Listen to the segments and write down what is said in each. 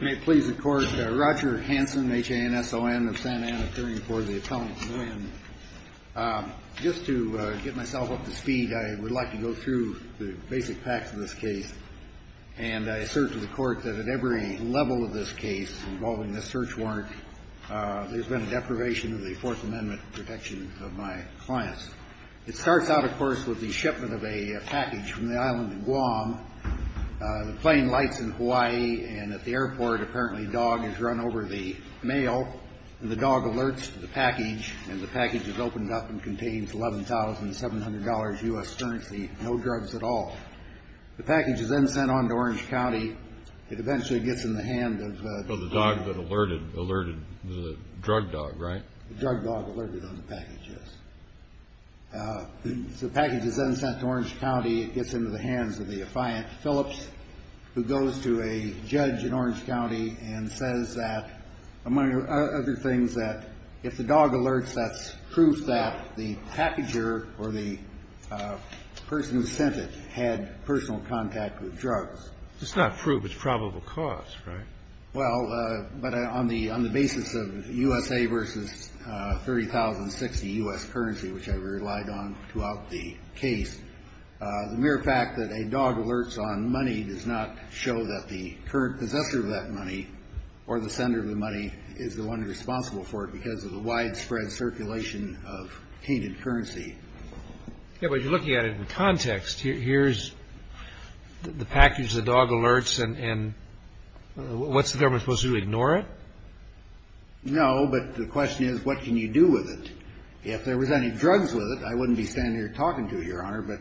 May it please the Court, Roger Hanson, H-A-N-S-O-N, of Santa Ana, appearing before the Attendant, Nguyen. Just to get myself up to speed, I would like to go through the basic facts of this case and assert to the Court that at every level of this case involving this search warrant, there's been a deprivation of the Fourth Amendment protection of my clients. It starts out, of course, with the shipment of a package from the island of Guam. The plane lights in Hawaii, and at the airport, apparently, a dog has run over the mail, and the dog alerts the package, and the package is opened up and contains $11,700 U.S. currency, no drugs at all. The package is then sent on to Orange County. It eventually gets in the hand of the dog that alerted the drug dog, right? The drug dog alerted on the package, yes. The package is then sent to Orange County. It gets into the hands of the affiant Phillips, who goes to a judge in Orange County and says that, among other things, that if the dog alerts, that's proof that the packager or the person who sent it had personal contact with drugs. It's not proof. It's probable cause, right? Well, but on the basis of USA versus $30,060 U.S. currency, which I relied on throughout the case, the mere fact that a dog alerts on money does not show that the current possessor of that money or the sender of the money is the one responsible for it because of the widespread circulation of tainted currency. Yeah, but you're looking at it in context. Here's the package, the dog alerts, and what's the government supposed to do, ignore it? No, but the question is, what can you do with it? If there was any drugs with it, I wouldn't be standing here talking to you, Your Honor, but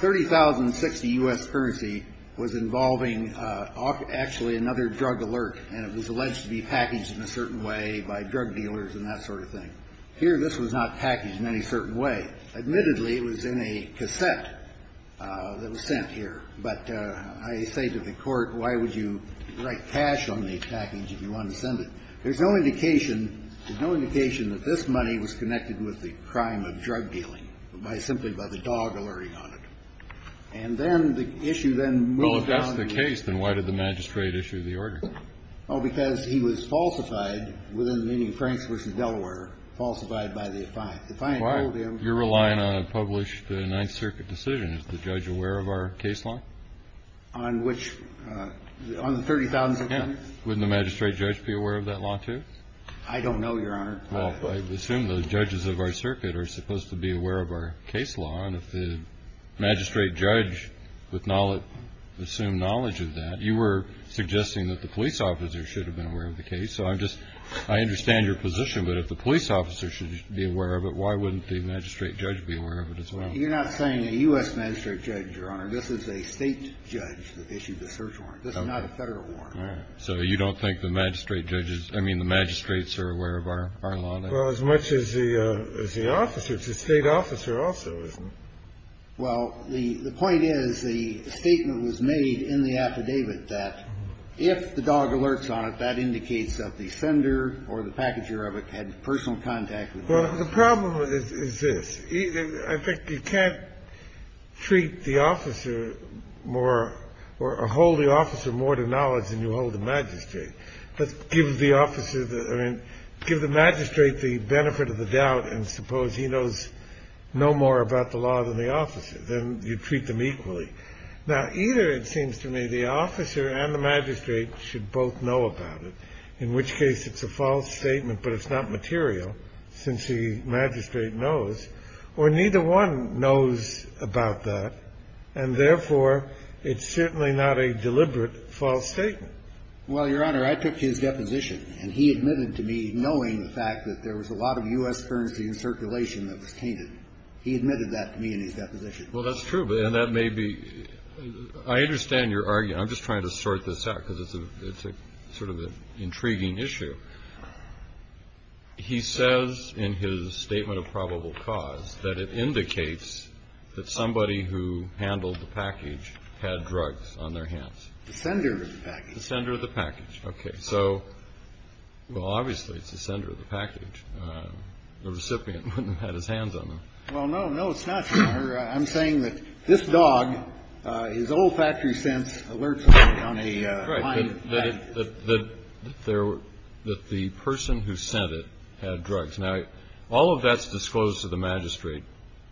$30,060 U.S. currency was involving actually another drug alert, and it was alleged to be packaged in a certain way by drug dealers and that sort of thing. Here, this was not packaged in any certain way. Admittedly, it was in a cassette that was sent here, but I say to the Court, why would you write cash on the package if you want to send it? There's no indication that this money was connected with the crime of drug dealing simply by the dog alerting on it. And then the issue then moved on to the next. Well, if that's the case, then why did the magistrate issue the order? Well, because he was falsified within the meaning of Franks v. Delaware, falsified by the defiant. The defiant told him. Why? You're relying on a published Ninth Circuit decision. Is the judge aware of our case law? On which? On the $30,000? Yeah. Wouldn't the magistrate judge be aware of that law, too? I don't know, Your Honor. Well, I assume the judges of our circuit are supposed to be aware of our case law, and if the magistrate judge with knowledge, assumed knowledge of that, you were suggesting that the police officer should have been aware of the case. So I'm just – I understand your position, but if the police officer should be aware of it, why wouldn't the magistrate judge be aware of it as well? You're not saying a U.S. magistrate judge, Your Honor. This is a state judge that issued the search warrant. This is not a Federal warrant. All right. So you don't think the magistrate judges – I mean the magistrates are aware of our law, then? Well, as much as the officer. It's the state officer also, isn't it? Well, the point is the statement was made in the affidavit that if the dog alerts on it, that indicates that the sender or the packager of it had personal contact with the dog. Well, the problem is this. In fact, you can't treat the officer more or hold the officer more to knowledge than you hold the magistrate. But give the officer the – I mean, give the magistrate the benefit of the doubt and suppose he knows no more about the law than the officer. Then you treat them equally. Now, either it seems to me the officer and the magistrate should both know about it, in which case it's a false statement, but it's not material since the magistrate knows, or neither one knows about that, and therefore it's certainly not a deliberate false statement. Well, Your Honor, I took his deposition, and he admitted to me, knowing the fact that there was a lot of U.S. currency in circulation that was tainted. He admitted that to me in his deposition. Well, that's true, and that may be – I understand your argument. I'm just trying to sort this out because it's a sort of an intriguing issue. He says in his statement of probable cause that it indicates that somebody who handled the package had drugs on their hands. The sender of the package. The sender of the package. Okay. So, well, obviously, it's the sender of the package. The recipient wouldn't have had his hands on them. Well, no, no, it's not, Your Honor. I'm saying that this dog, his olfactory sense alerts us on a – Right, that the person who sent it had drugs. Now, all of that's disclosed to the magistrate,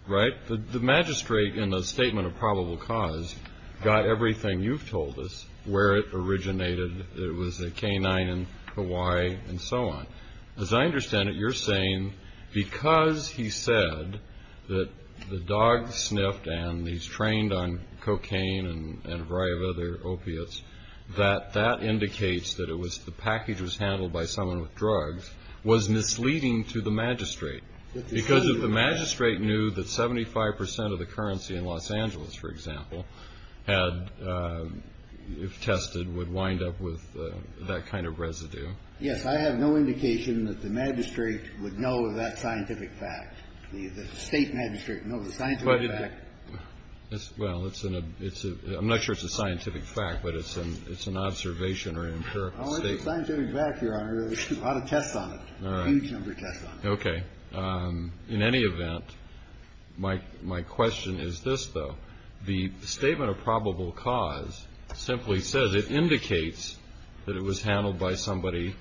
right? The magistrate, in the statement of probable cause, got everything you've told us, where it originated, it was a canine in Hawaii, and so on. As I understand it, you're saying because he said that the dog sniffed and he's trained on cocaine and a variety of other opiates, that that indicates that it was – the package was handled by someone with drugs, was misleading to the magistrate. Because if the magistrate knew that 75% of the currency in Los Angeles, for example, had – if tested, would wind up with that kind of residue. Yes. I have no indication that the magistrate would know of that scientific fact. The state magistrate would know of the scientific fact. Well, it's – I'm not sure it's a scientific fact, but it's an observation or empirical statement. It's a scientific fact, Your Honor. There's a lot of tests on it, a huge number of tests on it. Okay. In any event, my question is this, though. The statement of probable cause simply says it indicates that it was handled by somebody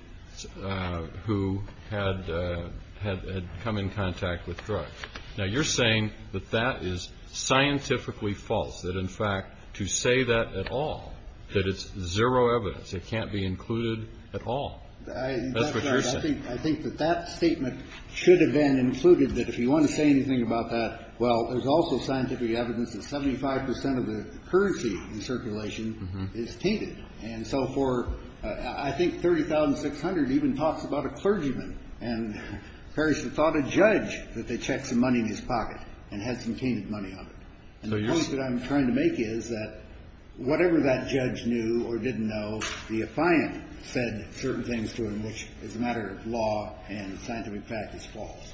who had come in contact with drugs. Now, you're saying that that is scientifically false, that, in fact, to say that at all, that it's zero evidence, it can't be included at all. That's what you're saying. I think that that statement should have been included, that if you want to say anything about that, well, there's also scientific evidence that 75% of the currency in circulation is tainted. And so for – I think 30,600 even talks about a clergyman. And Perry should have thought a judge that they checked some money in his pocket and had some tainted money on it. And the point that I'm trying to make is that whatever that judge knew or didn't know, the defiant said certain things to him which, as a matter of law and scientific fact, is false.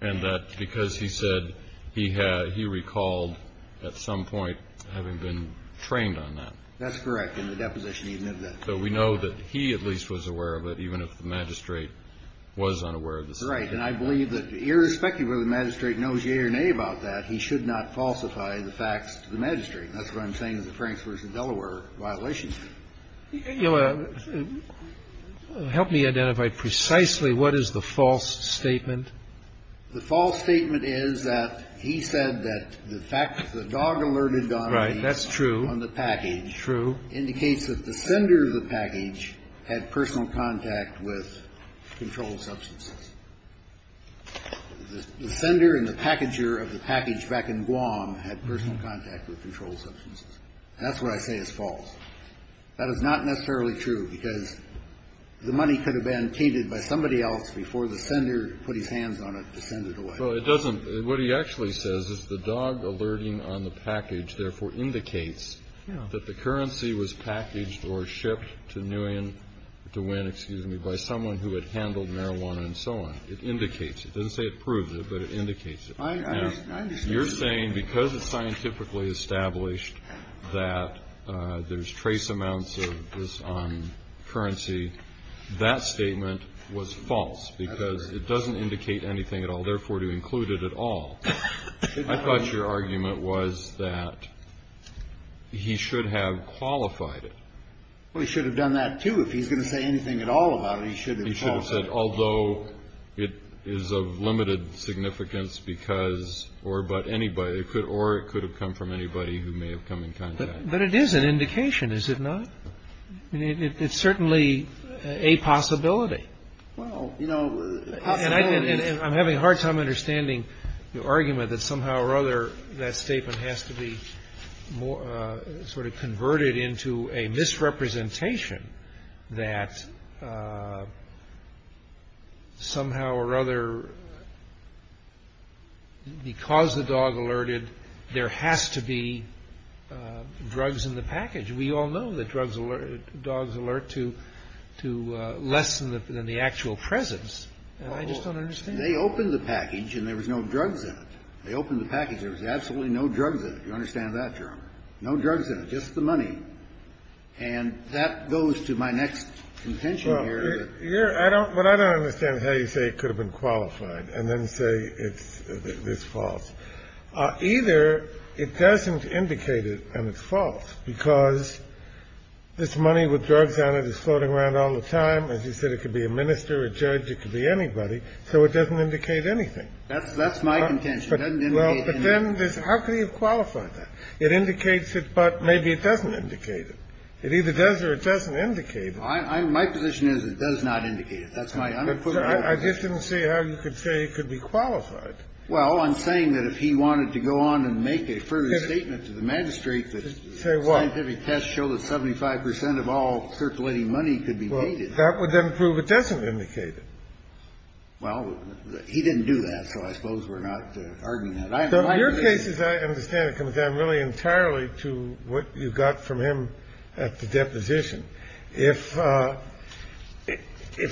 And that's because he said he had – he recalled at some point having been trained on that. That's correct. In the deposition, he admitted that. So we know that he at least was aware of it, even if the magistrate was unaware of the statement. Right. And I believe that irrespective of whether the magistrate knows yea or nay about that, he should not falsify the facts to the magistrate. That's what I'm saying is a Franks v. Delaware violation. You know, help me identify precisely what is the false statement. The false statement is that he said that the fact that the dog alerted Donnelly on the package. Right. That's true. True. Indicates that the sender of the package had personal contact with controlled substances. The sender and the packager of the package back in Guam had personal contact with controlled substances. And that's what I say is false. That is not necessarily true because the money could have been tainted by somebody else before the sender put his hands on it to send it away. Well, it doesn't – what he actually says is the dog alerting on the package therefore indicates that the currency was packaged or shipped to Nguyen to win, excuse me, by someone who had handled marijuana and so on. It indicates. It doesn't say it proves it, but it indicates it. I understand. Now, you're saying because it's scientifically established that there's trace amounts of this currency, that statement was false because it doesn't indicate anything at all, therefore, to include it at all. I thought your argument was that he should have qualified it. Well, he should have done that, too. If he's going to say anything at all about it, he should have qualified it. He should have said, although it is of limited significance because or but anybody – or it could have come from anybody who may have come in contact. But it is an indication, is it not? I mean, it's certainly a possibility. Well, you know – I'm having a hard time understanding your argument that somehow or other that statement has to be sort of converted into a misrepresentation that somehow or other because the dog alerted, there has to be drugs in the package. We all know that drugs alert – dogs alert to less than the actual presence. I just don't understand. They opened the package and there was no drugs in it. They opened the package. There was absolutely no drugs in it. You understand that, Your Honor? No drugs in it, just the money. And that goes to my next contention here. Well, I don't – but I don't understand how you say it could have been qualified and then say it's false. Either it doesn't indicate it and it's false because this money with drugs on it is floating around all the time. As you said, it could be a minister, a judge. It could be anybody. So it doesn't indicate anything. That's my contention. It doesn't indicate anything. Well, but then there's – how could he have qualified that? It indicates it, but maybe it doesn't indicate it. It either does or it doesn't indicate it. My position is it does not indicate it. That's my – I'm going to put it that way. I just didn't see how you could say it could be qualified. Well, I'm saying that if he wanted to go on and make a further statement to the magistrate that scientific tests show that 75 percent of all circulating money could be made. Well, that would then prove it doesn't indicate it. Well, he didn't do that, so I suppose we're not arguing that. In your cases, I understand it comes down really entirely to what you got from him at the deposition. If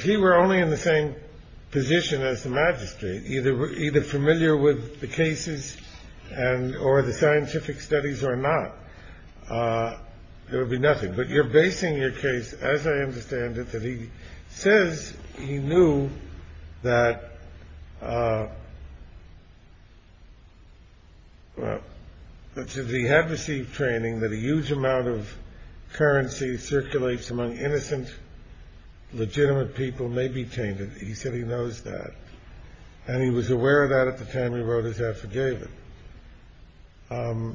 he were only in the same position as the magistrate, either familiar with the cases or the scientific studies or not, there would be nothing. But you're basing your case, as I understand it, that he says he knew that – well, that since he had received training that a huge amount of currency circulates among innocent, legitimate people may be tainted. He said he knows that. And he was aware of that at the time he wrote his affidavit. So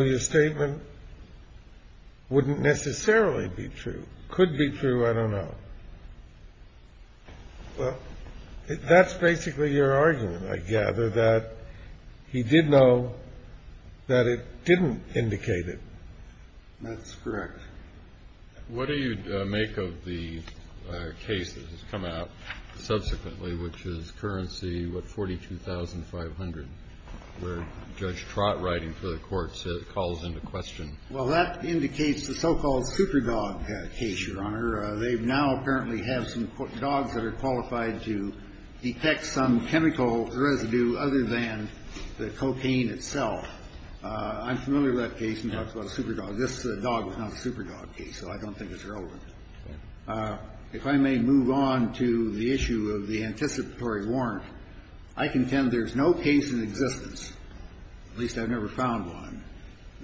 your statement wouldn't necessarily be true. Could be true. I don't know. Well, that's basically your argument, I gather, that he did know that it didn't indicate it. That's correct. What do you make of the case that has come out subsequently, which is currency, what, $42,500, where Judge Trott, writing for the courts, calls into question? Well, that indicates the so-called super dog case, Your Honor. They now apparently have some dogs that are qualified to detect some chemical residue other than the cocaine itself. I'm familiar with that case and talked about a super dog. This dog was not a super dog case, so I don't think it's relevant. If I may move on to the issue of the anticipatory warrant. I contend there's no case in existence, at least I've never found one,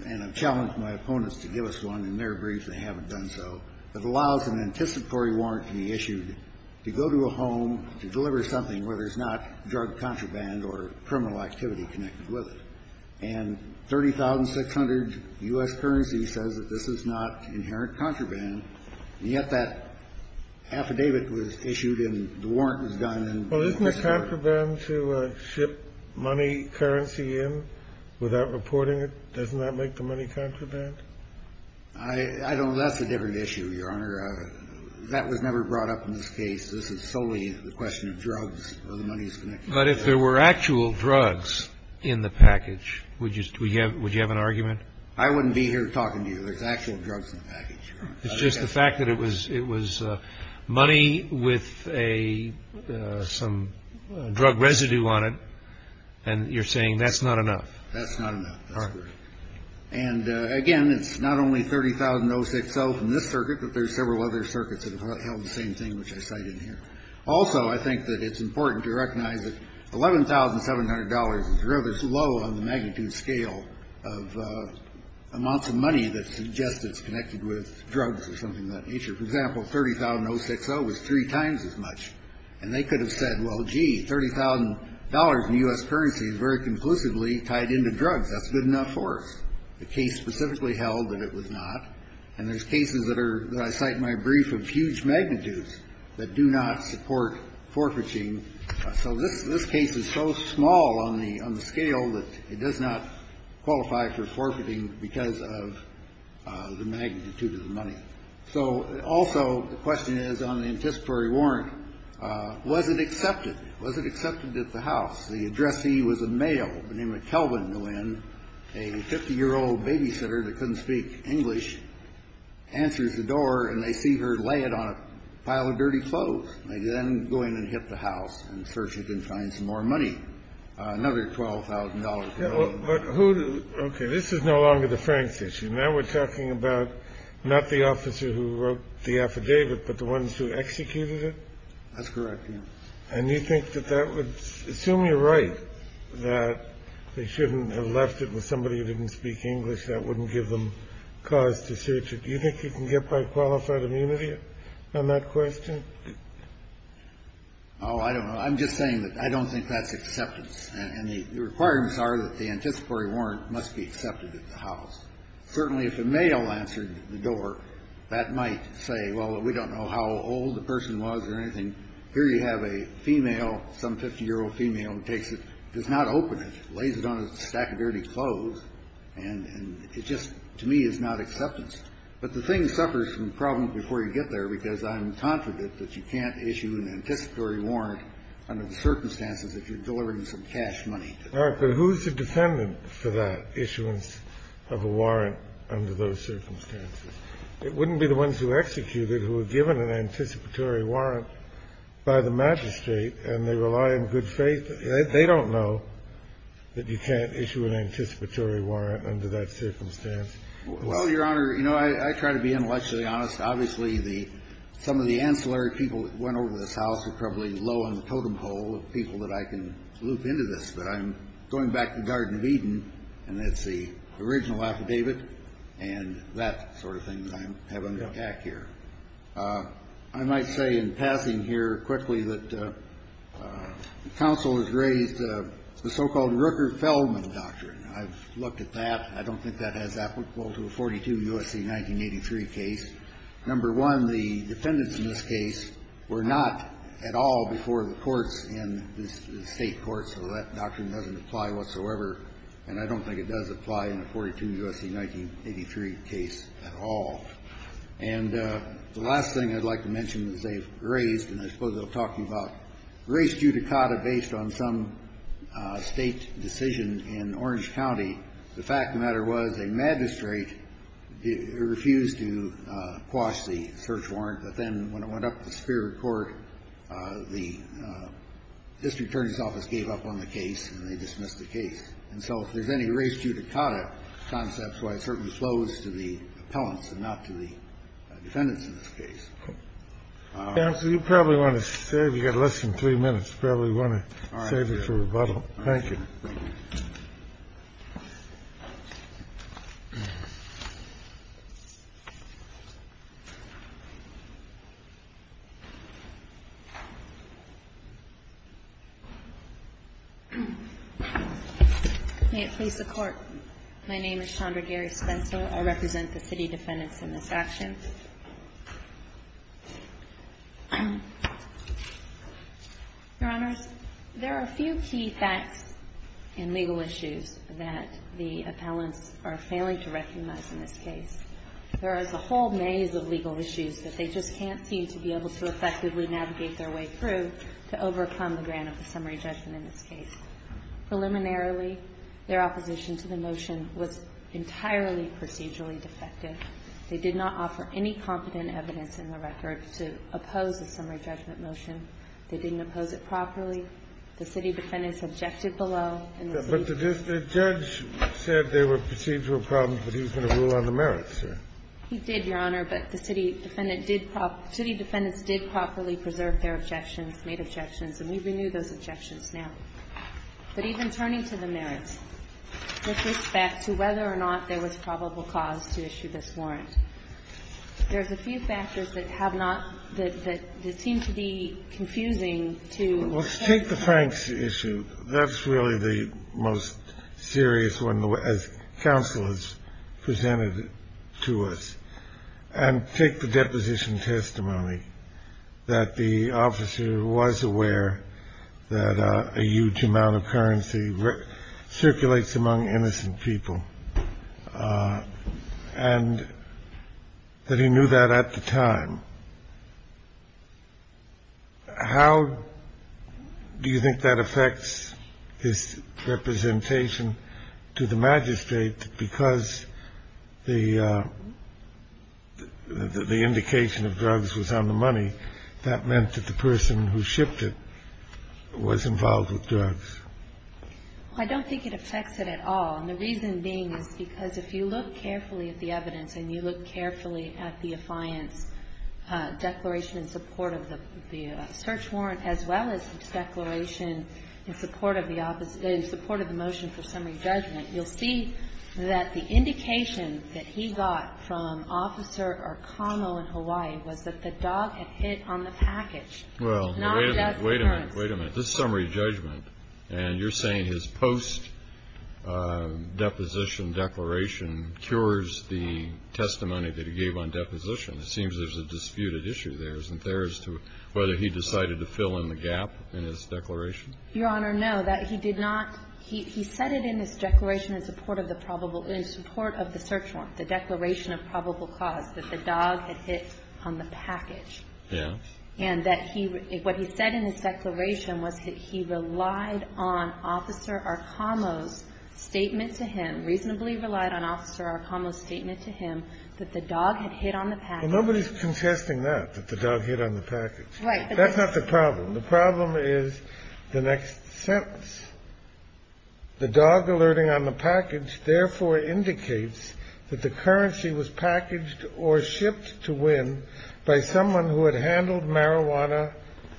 and I've challenged my opponents to give us one in their brief, and they haven't done so, that allows an anticipatory warrant to be issued to go to a home to deliver something where there's not drug contraband or criminal activity connected with it. And $30,600 U.S. currency says that this is not inherent contraband, and yet that affidavit was issued and the warrant was done. Well, isn't it contraband to ship money, currency in without reporting it? Doesn't that make the money contraband? I don't know. That's a different issue, Your Honor. That was never brought up in this case. This is solely the question of drugs or the money's connection. But if there were actual drugs in the package, would you have an argument? I wouldn't be here talking to you. There's actual drugs in the package, Your Honor. It's just the fact that it was money with some drug residue on it, and you're saying that's not enough. That's not enough. That's correct. And, again, it's not only 30,000 060 from this circuit, but there's several other circuits that have held the same thing, which I cite in here. Also, I think that it's important to recognize that $11,700 is rather low on the magnitude scale of amounts of money that suggests it's connected with drugs or something of that nature. For example, 30,000 060 was three times as much. And they could have said, well, gee, $30,000 in U.S. currency is very conclusively tied into drugs. That's good enough for us. The case specifically held that it was not. And there's cases that I cite in my brief of huge magnitudes that do not support forfeiting. So this case is so small on the scale that it does not qualify for forfeiting because of the magnitude of the money. So also the question is on the anticipatory warrant, was it accepted? Was it accepted at the house? The addressee was a male named Kelvin. When a 50 year old babysitter that couldn't speak English answers the door and they see her lay it on a pile of dirty clothes, they then go in and hit the house and search it and find some more money. Another twelve thousand dollars. But who. OK. This is no longer the Franks issue. Now we're talking about not the officer who wrote the affidavit, but the ones who executed it. That's correct. And you think that that would assume you're right, that they shouldn't have left it with somebody who didn't speak English. That wouldn't give them cause to search it. Do you think you can get by qualified immunity on that question? Oh, I don't know. I'm just saying that I don't think that's acceptance. And the requirements are that the anticipatory warrant must be accepted at the house. Certainly if a male answered the door, that might say, well, we don't know how old the person was or anything. Here you have a female, some 50 year old female who takes it, does not open it, lays it on a stack of dirty clothes. And it just to me is not acceptance. But the thing suffers from problems before you get there, because I'm confident that you can't issue an anticipatory warrant under the circumstances if you're delivering some cash money. All right. But who's the defendant for that issuance of a warrant under those circumstances? It wouldn't be the ones who executed who were given an anticipatory warrant by the magistrate, and they rely on good faith. They don't know that you can't issue an anticipatory warrant under that circumstance. Well, Your Honor, you know, I try to be intellectually honest. Obviously, some of the ancillary people that went over to this house are probably low on the totem pole of people that I can loop into this. But I'm going back to the Garden of Eden, and that's the original affidavit, and that sort of thing that I have under attack here. I might say in passing here quickly that counsel has raised the so-called Rooker-Feldman doctrine. I've looked at that. I don't think that has applicable to a 42 U.S.C. 1983 case. Number one, the defendants in this case were not at all before the courts in this State court, so that doctrine doesn't apply whatsoever. And I don't think it does apply in a 42 U.S.C. 1983 case at all. And the last thing I'd like to mention is they've raised, and I suppose I'll talk to you about race judicata based on some State decision in Orange County. The fact of the matter was a magistrate refused to quash the search warrant. But then when it went up to the Superior Court, the district attorney's office gave up on the case, and they dismissed the case. And so if there's any race judicata concepts, why, it certainly flows to the appellants and not to the defendants in this case. And so you probably want to save. You've got less than three minutes. You probably want to save it for rebuttal. Thank you. May it please the Court. My name is Chandra Gary Spencer. I represent the city defendants in this action. Your Honors, there are a few key facts in legal issues that the appellants are failing to recognize in this case. There is a whole maze of legal issues that they just can't seem to be able to effectively navigate their way through to overcome the grant of the summary judgment in this case. Preliminarily, their opposition to the motion was entirely procedurally defective. They did not offer any competent evidence in the record to oppose the summary judgment motion. They didn't oppose it properly. The city defendants objected below. But the judge said there were procedural problems, but he was going to rule on the merits, sir. He did, Your Honor. But the city defendants did properly preserve their objections, made objections, and we renew those objections now. But even turning to the merits, with respect to whether or not there was probable cause to issue this warrant, there's a few factors that have not, that seem to be confusing to. Let's take the Franks issue. That's really the most serious one, as counsel has presented to us. Take the deposition testimony that the officer was aware that a huge amount of currency circulates among innocent people and that he knew that at the time. How do you think that affects his representation to the magistrate? Because the indication of drugs was on the money, that meant that the person who shipped it was involved with drugs. I don't think it affects it at all. And the reason being is because if you look carefully at the evidence and you look carefully at the defiance declaration in support of the search warrant, as well as the declaration in support of the motion for summary judgment, you'll see that the indication that he got from Officer Arcano in Hawaii was that the dog had hit on the package. Well, wait a minute, wait a minute. This summary judgment, and you're saying his post-deposition declaration cures the testimony that he gave on deposition. It seems there's a disputed issue there, isn't there, as to whether he decided to fill in the gap in his declaration? Your Honor, no, that he did not. He said it in his declaration in support of the probable, in support of the search warrant, the declaration of probable cause, that the dog had hit on the package. Yes. And that he – what he said in his declaration was that he relied on Officer Arcano's statement to him, reasonably relied on Officer Arcano's statement to him, that the dog had hit on the package. Well, nobody's contesting that, that the dog hit on the package. Right. That's not the problem. The problem is the next sentence. The dog alerting on the package therefore indicates that the currency was packaged or shipped to Wynn by someone who had handled marijuana,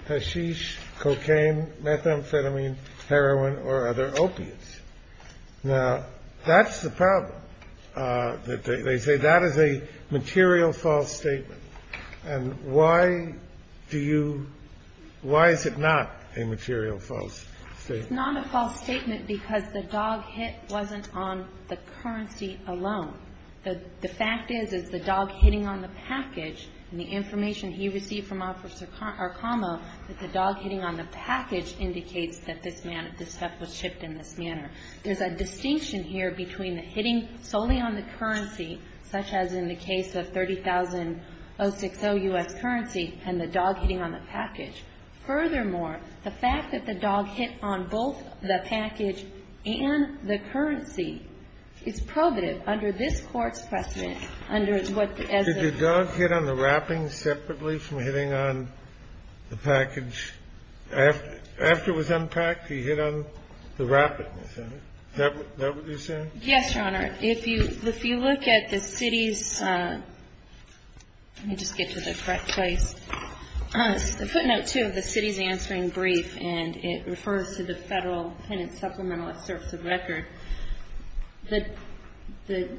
hashish, cocaine, methamphetamine, heroin, or other opiates. Now, that's the problem, that they say that is a material false statement. And why do you – why is it not a material false statement? It's not a false statement because the dog hit wasn't on the currency alone. The fact is, is the dog hitting on the package, and the information he received from Officer Arcano, that the dog hitting on the package indicates that this stuff was shipped in this manner. There's a distinction here between the hitting solely on the currency, such as in the case of 30,000.060 U.S. currency, and the dog hitting on the package. Furthermore, the fact that the dog hit on both the package and the currency is probative under this Court's precedent, under what, as a – Did the dog hit on the wrapping separately from hitting on the package? After it was unpacked, he hit on the wrapping, is that it? Is that what you're saying? Yes, Your Honor. If you look at the city's – let me just get to the correct place. The footnote 2 of the city's answering brief, and it refers to the Federal Penance Supplementalist Service of Record. The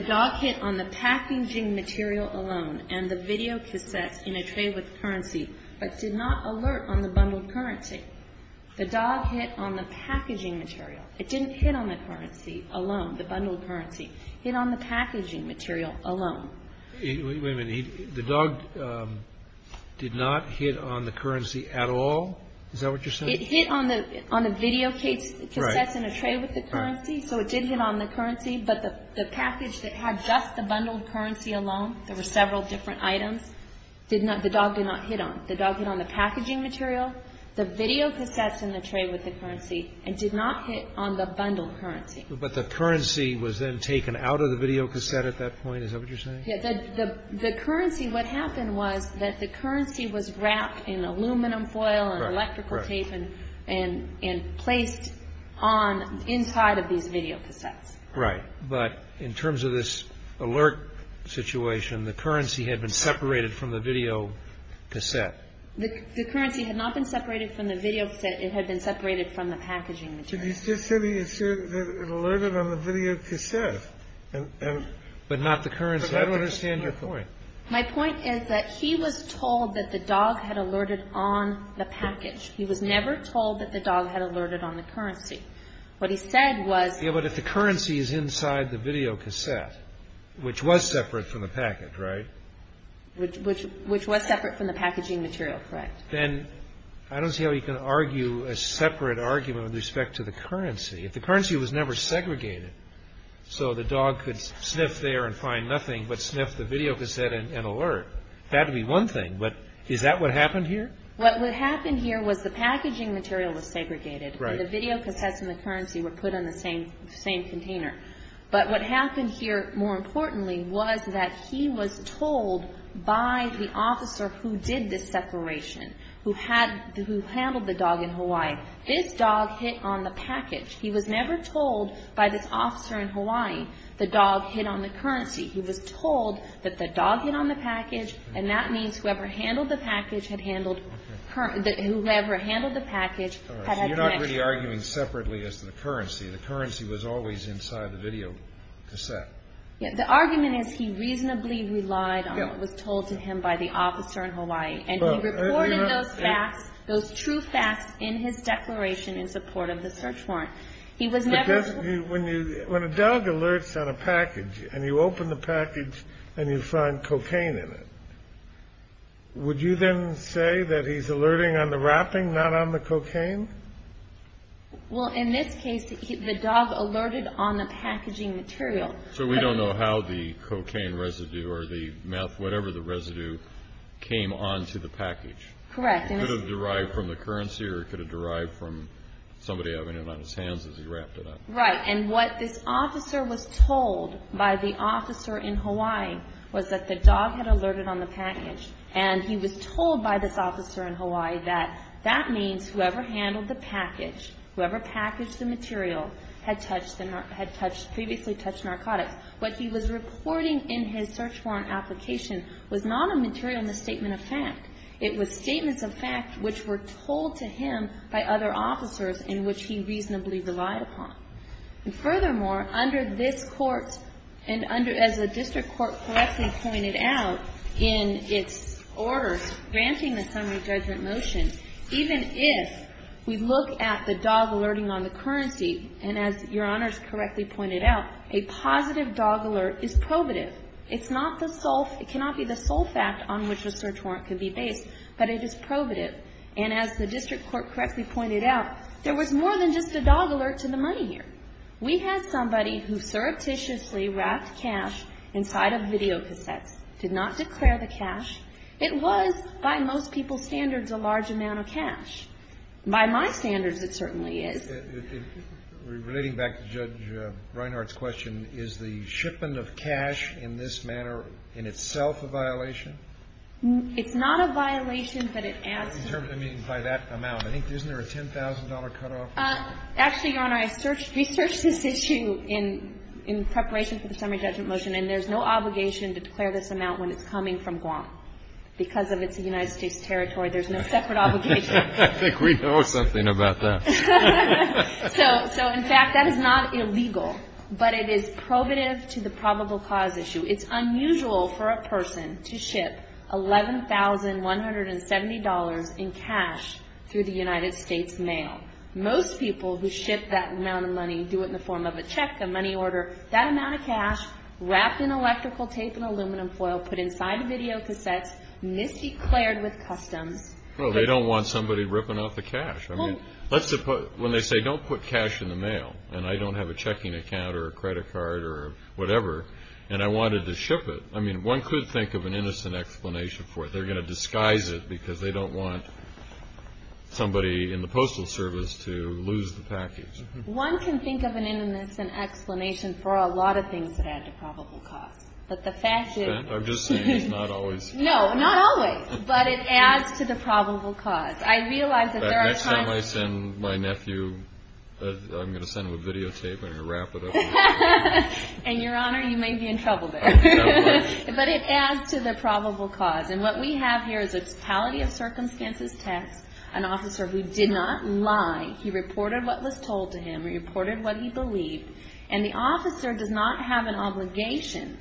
dog hit on the packaging material alone, and the videocassettes in a tray with currency, but did not alert on the bundled currency. The dog hit on the packaging material. It didn't hit on the currency alone, the bundled currency. It hit on the packaging material alone. Wait a minute. The dog did not hit on the currency at all? Is that what you're saying? It hit on the videocassettes in a tray with the currency, so it did hit on the currency, but the package that had just the bundled currency alone, there were several different items, the dog did not hit on. The dog hit on the packaging material, the videocassettes in the tray with the currency, and did not hit on the bundled currency. But the currency was then taken out of the videocassette at that point? Is that what you're saying? Yeah. The currency, what happened was that the currency was wrapped in aluminum foil and electrical tape and placed on inside of these videocassettes. Right. But in terms of this alert situation, the currency had been separated from the videocassette. The currency had not been separated from the videocassette. It had been separated from the packaging material. But you just said it alerted on the videocassette. But not the currency. I don't understand your point. My point is that he was told that the dog had alerted on the package. He was never told that the dog had alerted on the currency. What he said was... Yeah, but if the currency is inside the videocassette, which was separate from the package, right? Which was separate from the packaging material, correct. Then I don't see how you can argue a separate argument with respect to the currency. If the currency was never segregated so the dog could sniff there and find nothing but sniff the videocassette and alert, that would be one thing. But is that what happened here? What happened here was the packaging material was segregated. Right. And the videocassettes and the currency were put in the same container. But what happened here, more importantly, was that he was told by the officer who did this separation, who handled the dog in Hawaii, this dog hit on the package. He was never told by this officer in Hawaii the dog hit on the currency. He was told that the dog hit on the package, and that means whoever handled the package had had the next package. So you're not really arguing separately as to the currency. The currency was always inside the videocassette. The argument is he reasonably relied on what was told to him by the officer in Hawaii. And he reported those facts, those true facts, in his declaration in support of the search warrant. He was never told. But when a dog alerts on a package and you open the package and you find cocaine in it, would you then say that he's alerting on the wrapping, not on the cocaine? Well, in this case, the dog alerted on the packaging material. So we don't know how the cocaine residue or the meth, whatever the residue, came onto the package. Correct. It could have derived from the currency or it could have derived from somebody having it on his hands as he wrapped it up. Right. And what this officer was told by the officer in Hawaii was that the dog had alerted on the package. And he was told by this officer in Hawaii that that means whoever handled the package, whoever packaged the material, had previously touched narcotics. What he was reporting in his search warrant application was not a material misstatement of fact. It was statements of fact which were told to him by other officers in which he reasonably relied upon. And furthermore, under this court, and as the district court correctly pointed out in its order granting the summary judgment motion, even if we look at the dog alerting on the currency, and as Your Honors correctly pointed out, a positive dog alert is probative. It's not the sole, it cannot be the sole fact on which the search warrant could be based, but it is probative. And as the district court correctly pointed out, there was more than just a dog alert to the money here. We had somebody who surreptitiously wrapped cash inside of videocassettes, did not declare the cash. It was, by most people's standards, a large amount of cash. By my standards, it certainly is. Relating back to Judge Reinhart's question, is the shipment of cash in this manner in itself a violation? It's not a violation, but it adds to it. By that amount. Isn't there a $10,000 cutoff? Actually, Your Honor, I researched this issue in preparation for the summary judgment motion, and there's no obligation to declare this amount when it's coming from Guam. Because of its United States territory, there's no separate obligation. I think we know something about that. So, in fact, that is not illegal, but it is probative to the probable cause issue. It's unusual for a person to ship $11,170 in cash through the United States mail. Most people who ship that amount of money do it in the form of a check, a money order. That amount of cash, wrapped in electrical tape and aluminum foil, put inside videocassettes, misdeclared with customs. Well, they don't want somebody ripping off the cash. When they say, don't put cash in the mail, and I don't have a checking account or a credit card or whatever, and I wanted to ship it, I mean, one could think of an innocent explanation for it. They're going to disguise it because they don't want somebody in the Postal Service to lose the package. One can think of an innocent explanation for a lot of things that add to probable cause. But the fact is – I'm just saying it's not always – No, not always. But it adds to the probable cause. I realize that there are times – The next time I send my nephew, I'm going to send him a videotape, and I'm going to wrap it up. And, Your Honor, you may be in trouble there. But it adds to the probable cause. And what we have here is a totality of circumstances text, an officer who did not lie. He reported what was told to him. He reported what he believed. And the officer does not have an obligation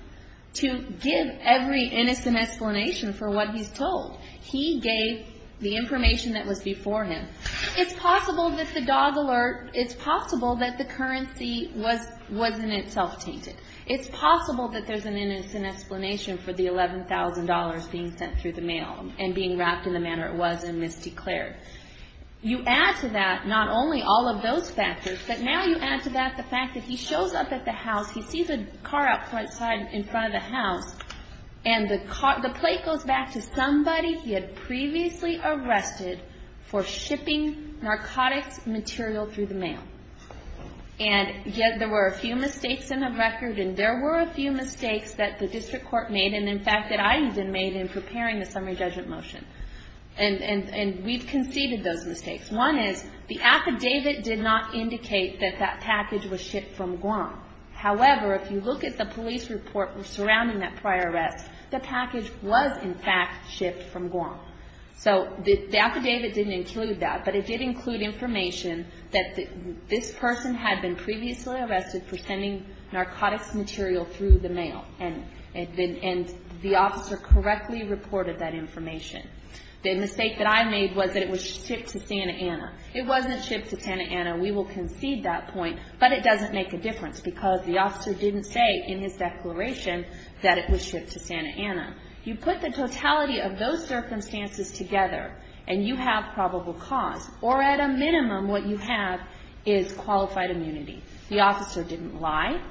to give every innocent explanation for what he's told. He gave the information that was before him. It's possible that the dog alert – It's possible that the currency was in itself tainted. It's possible that there's an innocent explanation for the $11,000 being sent through the mail and being wrapped in the manner it was and misdeclared. You add to that not only all of those factors, but now you add to that the fact that he shows up at the house, he sees a car outside in front of the house, and the plate goes back to somebody he had previously arrested for shipping narcotics material through the mail. And yet there were a few mistakes in the record, and there were a few mistakes that the district court made, and in fact that I even made in preparing the summary judgment motion. And we've conceded those mistakes. One is the affidavit did not indicate that that package was shipped from Guam. However, if you look at the police report surrounding that prior arrest, the package was in fact shipped from Guam. So the affidavit didn't include that, but it did include information that this person had been previously arrested for sending narcotics material through the mail, and the officer correctly reported that information. The mistake that I made was that it was shipped to Santa Ana. It wasn't shipped to Santa Ana. We will concede that point, but it doesn't make a difference because the officer didn't say in his declaration that it was shipped to Santa Ana. You put the totality of those circumstances together and you have probable cause, or at a minimum what you have is qualified immunity. The officer didn't lie.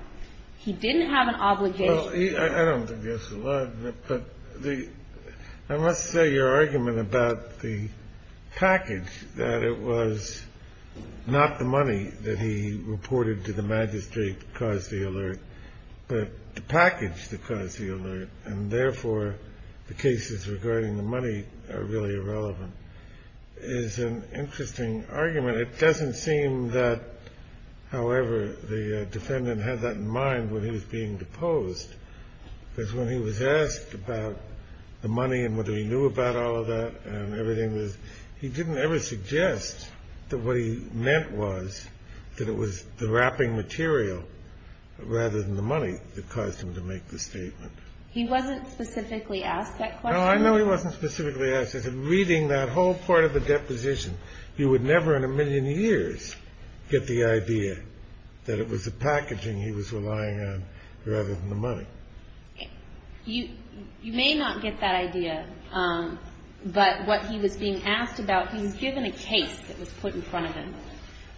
He didn't have an obligation. Well, I don't think there's a lot, but I must say your argument about the package, that it was not the money that he reported to the magistrate that caused the alert, but the package that caused the alert, and therefore the cases regarding the money are really irrelevant, is an interesting argument. It doesn't seem that, however, the defendant had that in mind when he was being deposed because when he was asked about the money and whether he knew about all of that and everything, he didn't ever suggest that what he meant was that it was the wrapping material rather than the money that caused him to make the statement. He wasn't specifically asked that question? No, I know he wasn't specifically asked. I said, reading that whole part of the deposition, you would never in a million years get the idea that it was the packaging he was relying on rather than the money. You may not get that idea, but what he was being asked about, he was given a case that was put in front of him,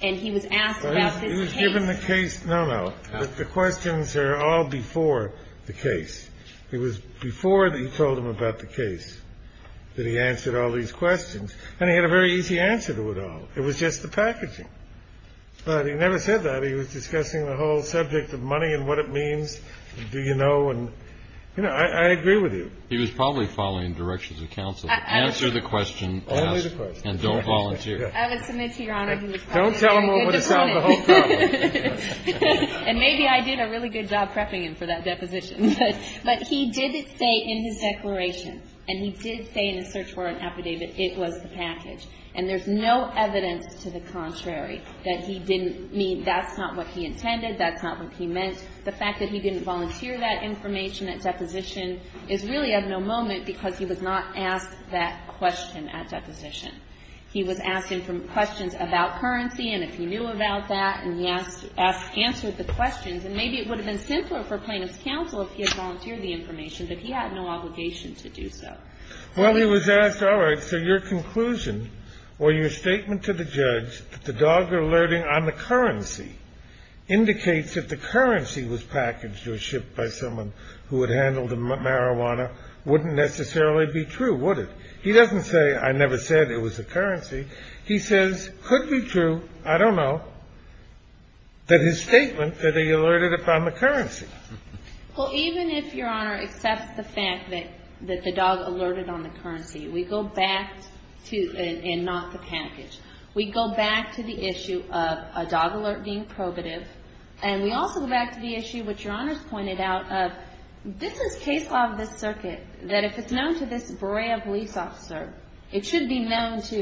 and he was asked about this case. He was given the case. No, no, the questions are all before the case. It was before he told him about the case that he answered all these questions, and he had a very easy answer to it all. It was just the packaging. But he never said that. He was discussing the whole subject of money and what it means, do you know, and I agree with you. He was probably following directions of counsel. Answer the question and don't volunteer. I would submit to Your Honor he was probably a very good defendant. Don't tell him what would have solved the whole problem. And maybe I did a really good job prepping him for that deposition. But he did say in his declaration, and he did say in his search warrant affidavit, it was the package. And there's no evidence to the contrary that he didn't mean that's not what he intended, that's not what he meant. The fact that he didn't volunteer that information at deposition is really of no moment because he was not asked that question at deposition. He was asked questions about currency and if he knew about that, and he answered the questions. And maybe it would have been simpler for plaintiff's counsel if he had volunteered the information, but he had no obligation to do so. Well, he was asked, all right, so your conclusion or your statement to the judge that the dogger alerting on the currency indicates that the currency was packaged or shipped by someone who had handled the marijuana wouldn't necessarily be true, would it? Well, even if Your Honor accepts the fact that the dog alerted on the currency, we go back to, and not the package, we go back to the issue of a dog alert being probative, and we also go back to the issue which Your Honor's pointed out of this is case law of this circuit that if it's known to this brave police officer, it should be known to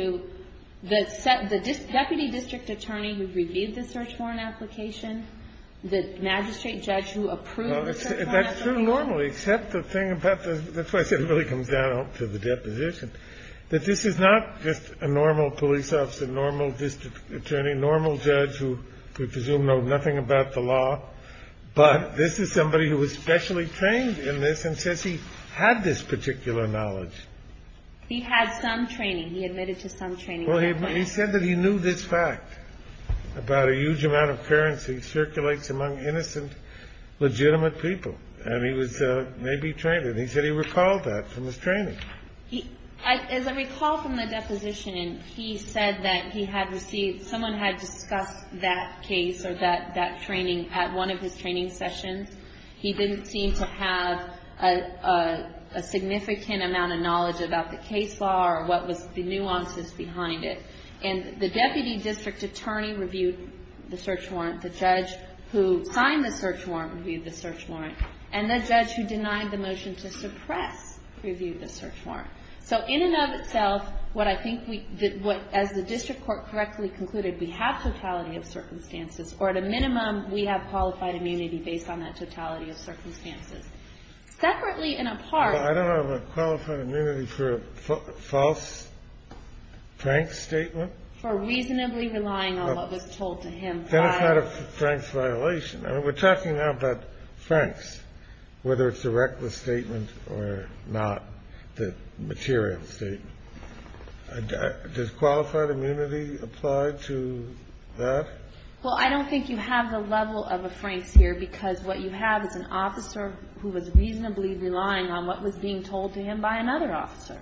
the dog alert being probative. The deputy district attorney who reviewed the search warrant application, the magistrate judge who approved the search warrant application. That's true normally, except the thing about the question really comes down to the deposition, that this is not just a normal police officer, normal district attorney, normal judge who could presume to know nothing about the law, but this is somebody who was specially trained in this and says he had this particular knowledge. He had some training. He admitted to some training. Well, he said that he knew this fact about a huge amount of currency circulates among innocent, legitimate people, and he was maybe trained, and he said he recalled that from his training. As I recall from the deposition, he said that he had received, someone had discussed that case or that training at one of his training sessions. He didn't seem to have a significant amount of knowledge about the case law or what was the nuances behind it. And the deputy district attorney reviewed the search warrant, the judge who signed the search warrant reviewed the search warrant, and the judge who denied the motion to suppress reviewed the search warrant. So in and of itself, what I think we, as the district court correctly concluded, we have totality of circumstances, or at a minimum, we have qualified immunity based on that totality of circumstances. Separately and apart. I don't have a qualified immunity for a false Frank statement. For reasonably relying on what was told to him. That's not a Frank's violation. I mean, we're talking now about Frank's, whether it's a reckless statement or not, the material statement. Does qualified immunity apply to that? Well, I don't think you have the level of a Frank's here, because what you have is an officer who was reasonably relying on what was being told to him by another officer.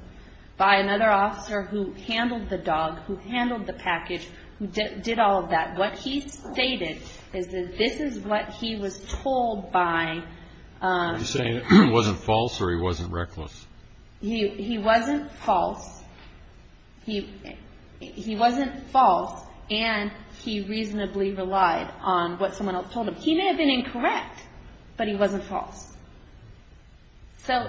By another officer who handled the dog, who handled the package, who did all of that. What he stated is that this is what he was told by. Are you saying it wasn't false or he wasn't reckless? He wasn't false. He wasn't false, and he reasonably relied on what someone else told him. He may have been incorrect, but he wasn't false. So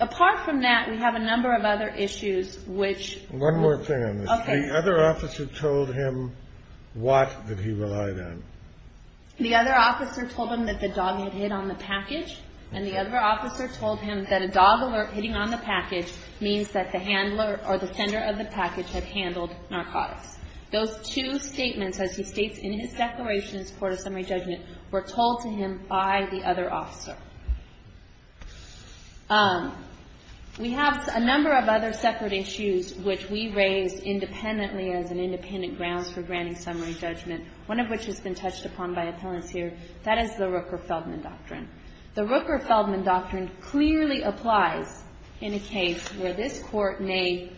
apart from that, we have a number of other issues which. One more thing on this. The other officer told him what that he relied on. The other officer told him that the dog had hit on the package, and the other officer told him that a dog alert hitting on the package means that the handler or the sender of the package had handled narcotics. Those two statements, as he states in his declaration in support of summary judgment, were told to him by the other officer. We have a number of other separate issues which we raise independently as an independent grounds for granting summary judgment, one of which has been touched upon by appellants here. That is the Rooker-Feldman doctrine. The Rooker-Feldman doctrine clearly applies in a case where this court may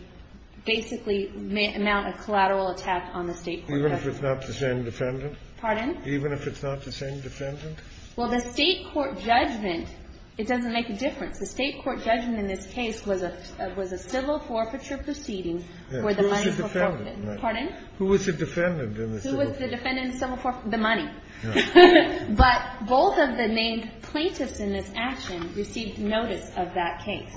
basically mount a collateral attack on the State court. Even if it's not the same defendant? Pardon? Even if it's not the same defendant? Well, the State court judgment, it doesn't make a difference. The State court judgment in this case was a civil forfeiture proceeding where the money was forfeited. Pardon? Who was the defendant in the civil forfeiture? Who was the defendant in the civil forfeiture? The money. But both of the named plaintiffs in this action received notice of that case.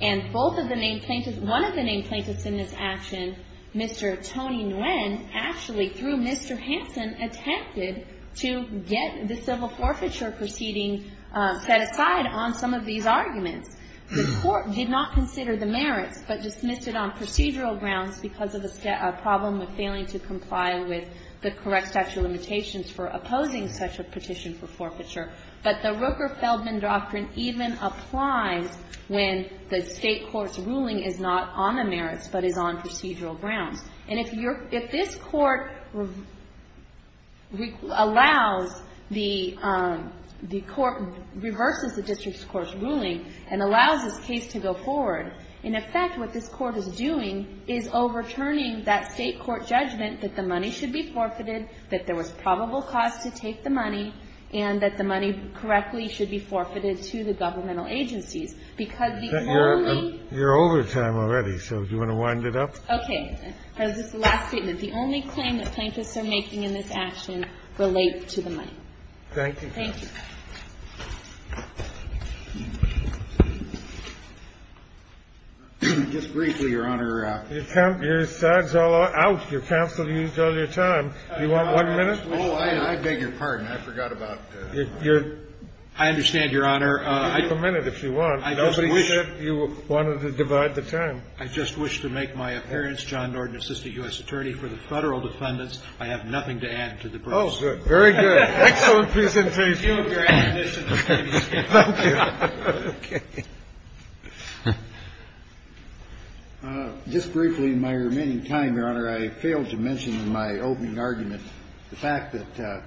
And both of the named plaintiffs, one of the named plaintiffs in this action, Mr. Tony Nguyen, actually through Mr. Hanson, attempted to get the civil forfeiture proceeding set aside on some of these arguments. The court did not consider the merits but dismissed it on procedural grounds because of a problem with failing to comply with the correct statute of limitations for opposing such a petition for forfeiture. But the Rooker-Feldman doctrine even applies when the State court's ruling is not on the merits but is on procedural grounds. And if this court allows the court, reverses the district's court's ruling and allows this case to go forward, in effect what this court is doing is overturning that State court judgment that the money should be forfeited, that there was probable cause to take the money, and that the money correctly should be forfeited to the governmental agencies. Because the only ---- You're over time already, so do you want to wind it up? Okay. This is the last statement. The only claim that plaintiffs are making in this action relate to the money. Thank you. Thank you. Just briefly, Your Honor. Your time's all out. Your counsel used all your time. Do you want one minute? Oh, I beg your pardon. I forgot about ---- I understand, Your Honor. You have a minute if you want. Nobody said you wanted to divide the time. I just wish to make my appearance. John Norton, Assistant U.S. Attorney for the Federal Defendants. I have nothing to add to the brief. Oh, good. Excellent presentation. Thank you. Thank you. Okay. Just briefly, in my remaining time, Your Honor, I failed to mention in my opening argument the fact that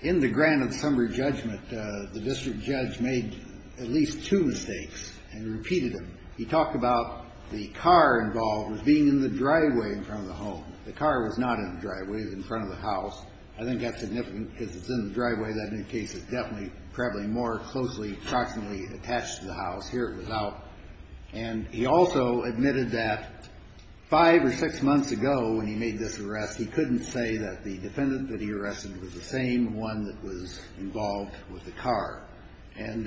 in the grand and somber judgment, the district judge made at least two mistakes and repeated them. He talked about the car involved with being in the driveway in front of the home. The car was not in the driveway. It was in front of the house. I think that's significant because it's in the driveway. In that case, it's definitely probably more closely approximately attached to the house. Here it was out. And he also admitted that five or six months ago when he made this arrest, he couldn't say that the defendant that he arrested was the same one that was involved with the car. Was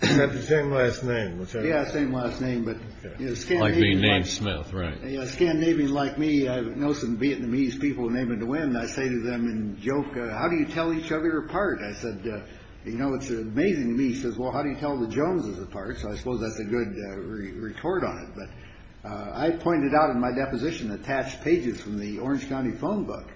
that the same last name? Yeah, same last name. Like being named Smith, right. A Scandinavian like me, I know some Vietnamese people named Nguyen. I say to them in joke, how do you tell each other apart? I said, you know, it's amazing to me. He says, well, how do you tell the Joneses apart? So I suppose that's a good retort on it. But I pointed out in my deposition attached pages from the Orange County phone book.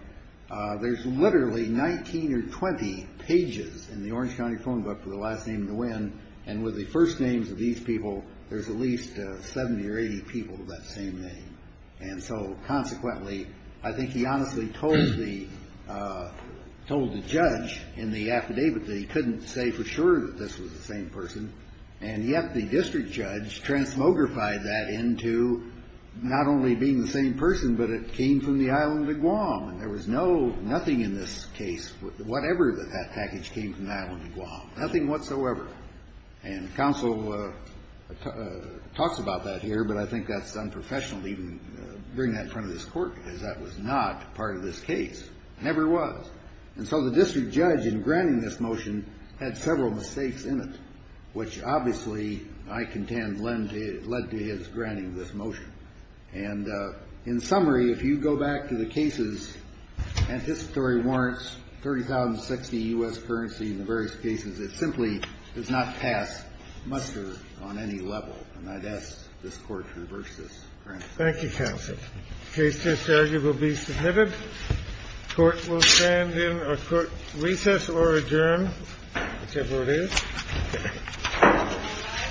There's literally 19 or 20 pages in the Orange County phone book for the last name Nguyen. And with the first names of these people, there's at least 70 or 80 people with that same name. And so consequently, I think he honestly told the judge in the affidavit that he couldn't say for sure that this was the same person. And yet the district judge transmogrified that into not only being the same person, but it came from the island of Guam. And there was nothing in this case, whatever that package came from the island of Guam, nothing whatsoever. And counsel talks about that here, but I think that's unprofessional to even bring that in front of this court because that was not part of this case. Never was. And so the district judge in granting this motion had several mistakes in it, which obviously, I contend, led to his granting this motion. And in summary, if you go back to the cases, anticipatory warrants, 30,060 U.S. currency in the various cases, it simply does not pass muster on any level. And I'd ask this Court to reverse this. Thank you, counsel. The case just argued will be submitted. The Court will stand in a court recess or adjourn, whichever it is. Thank you.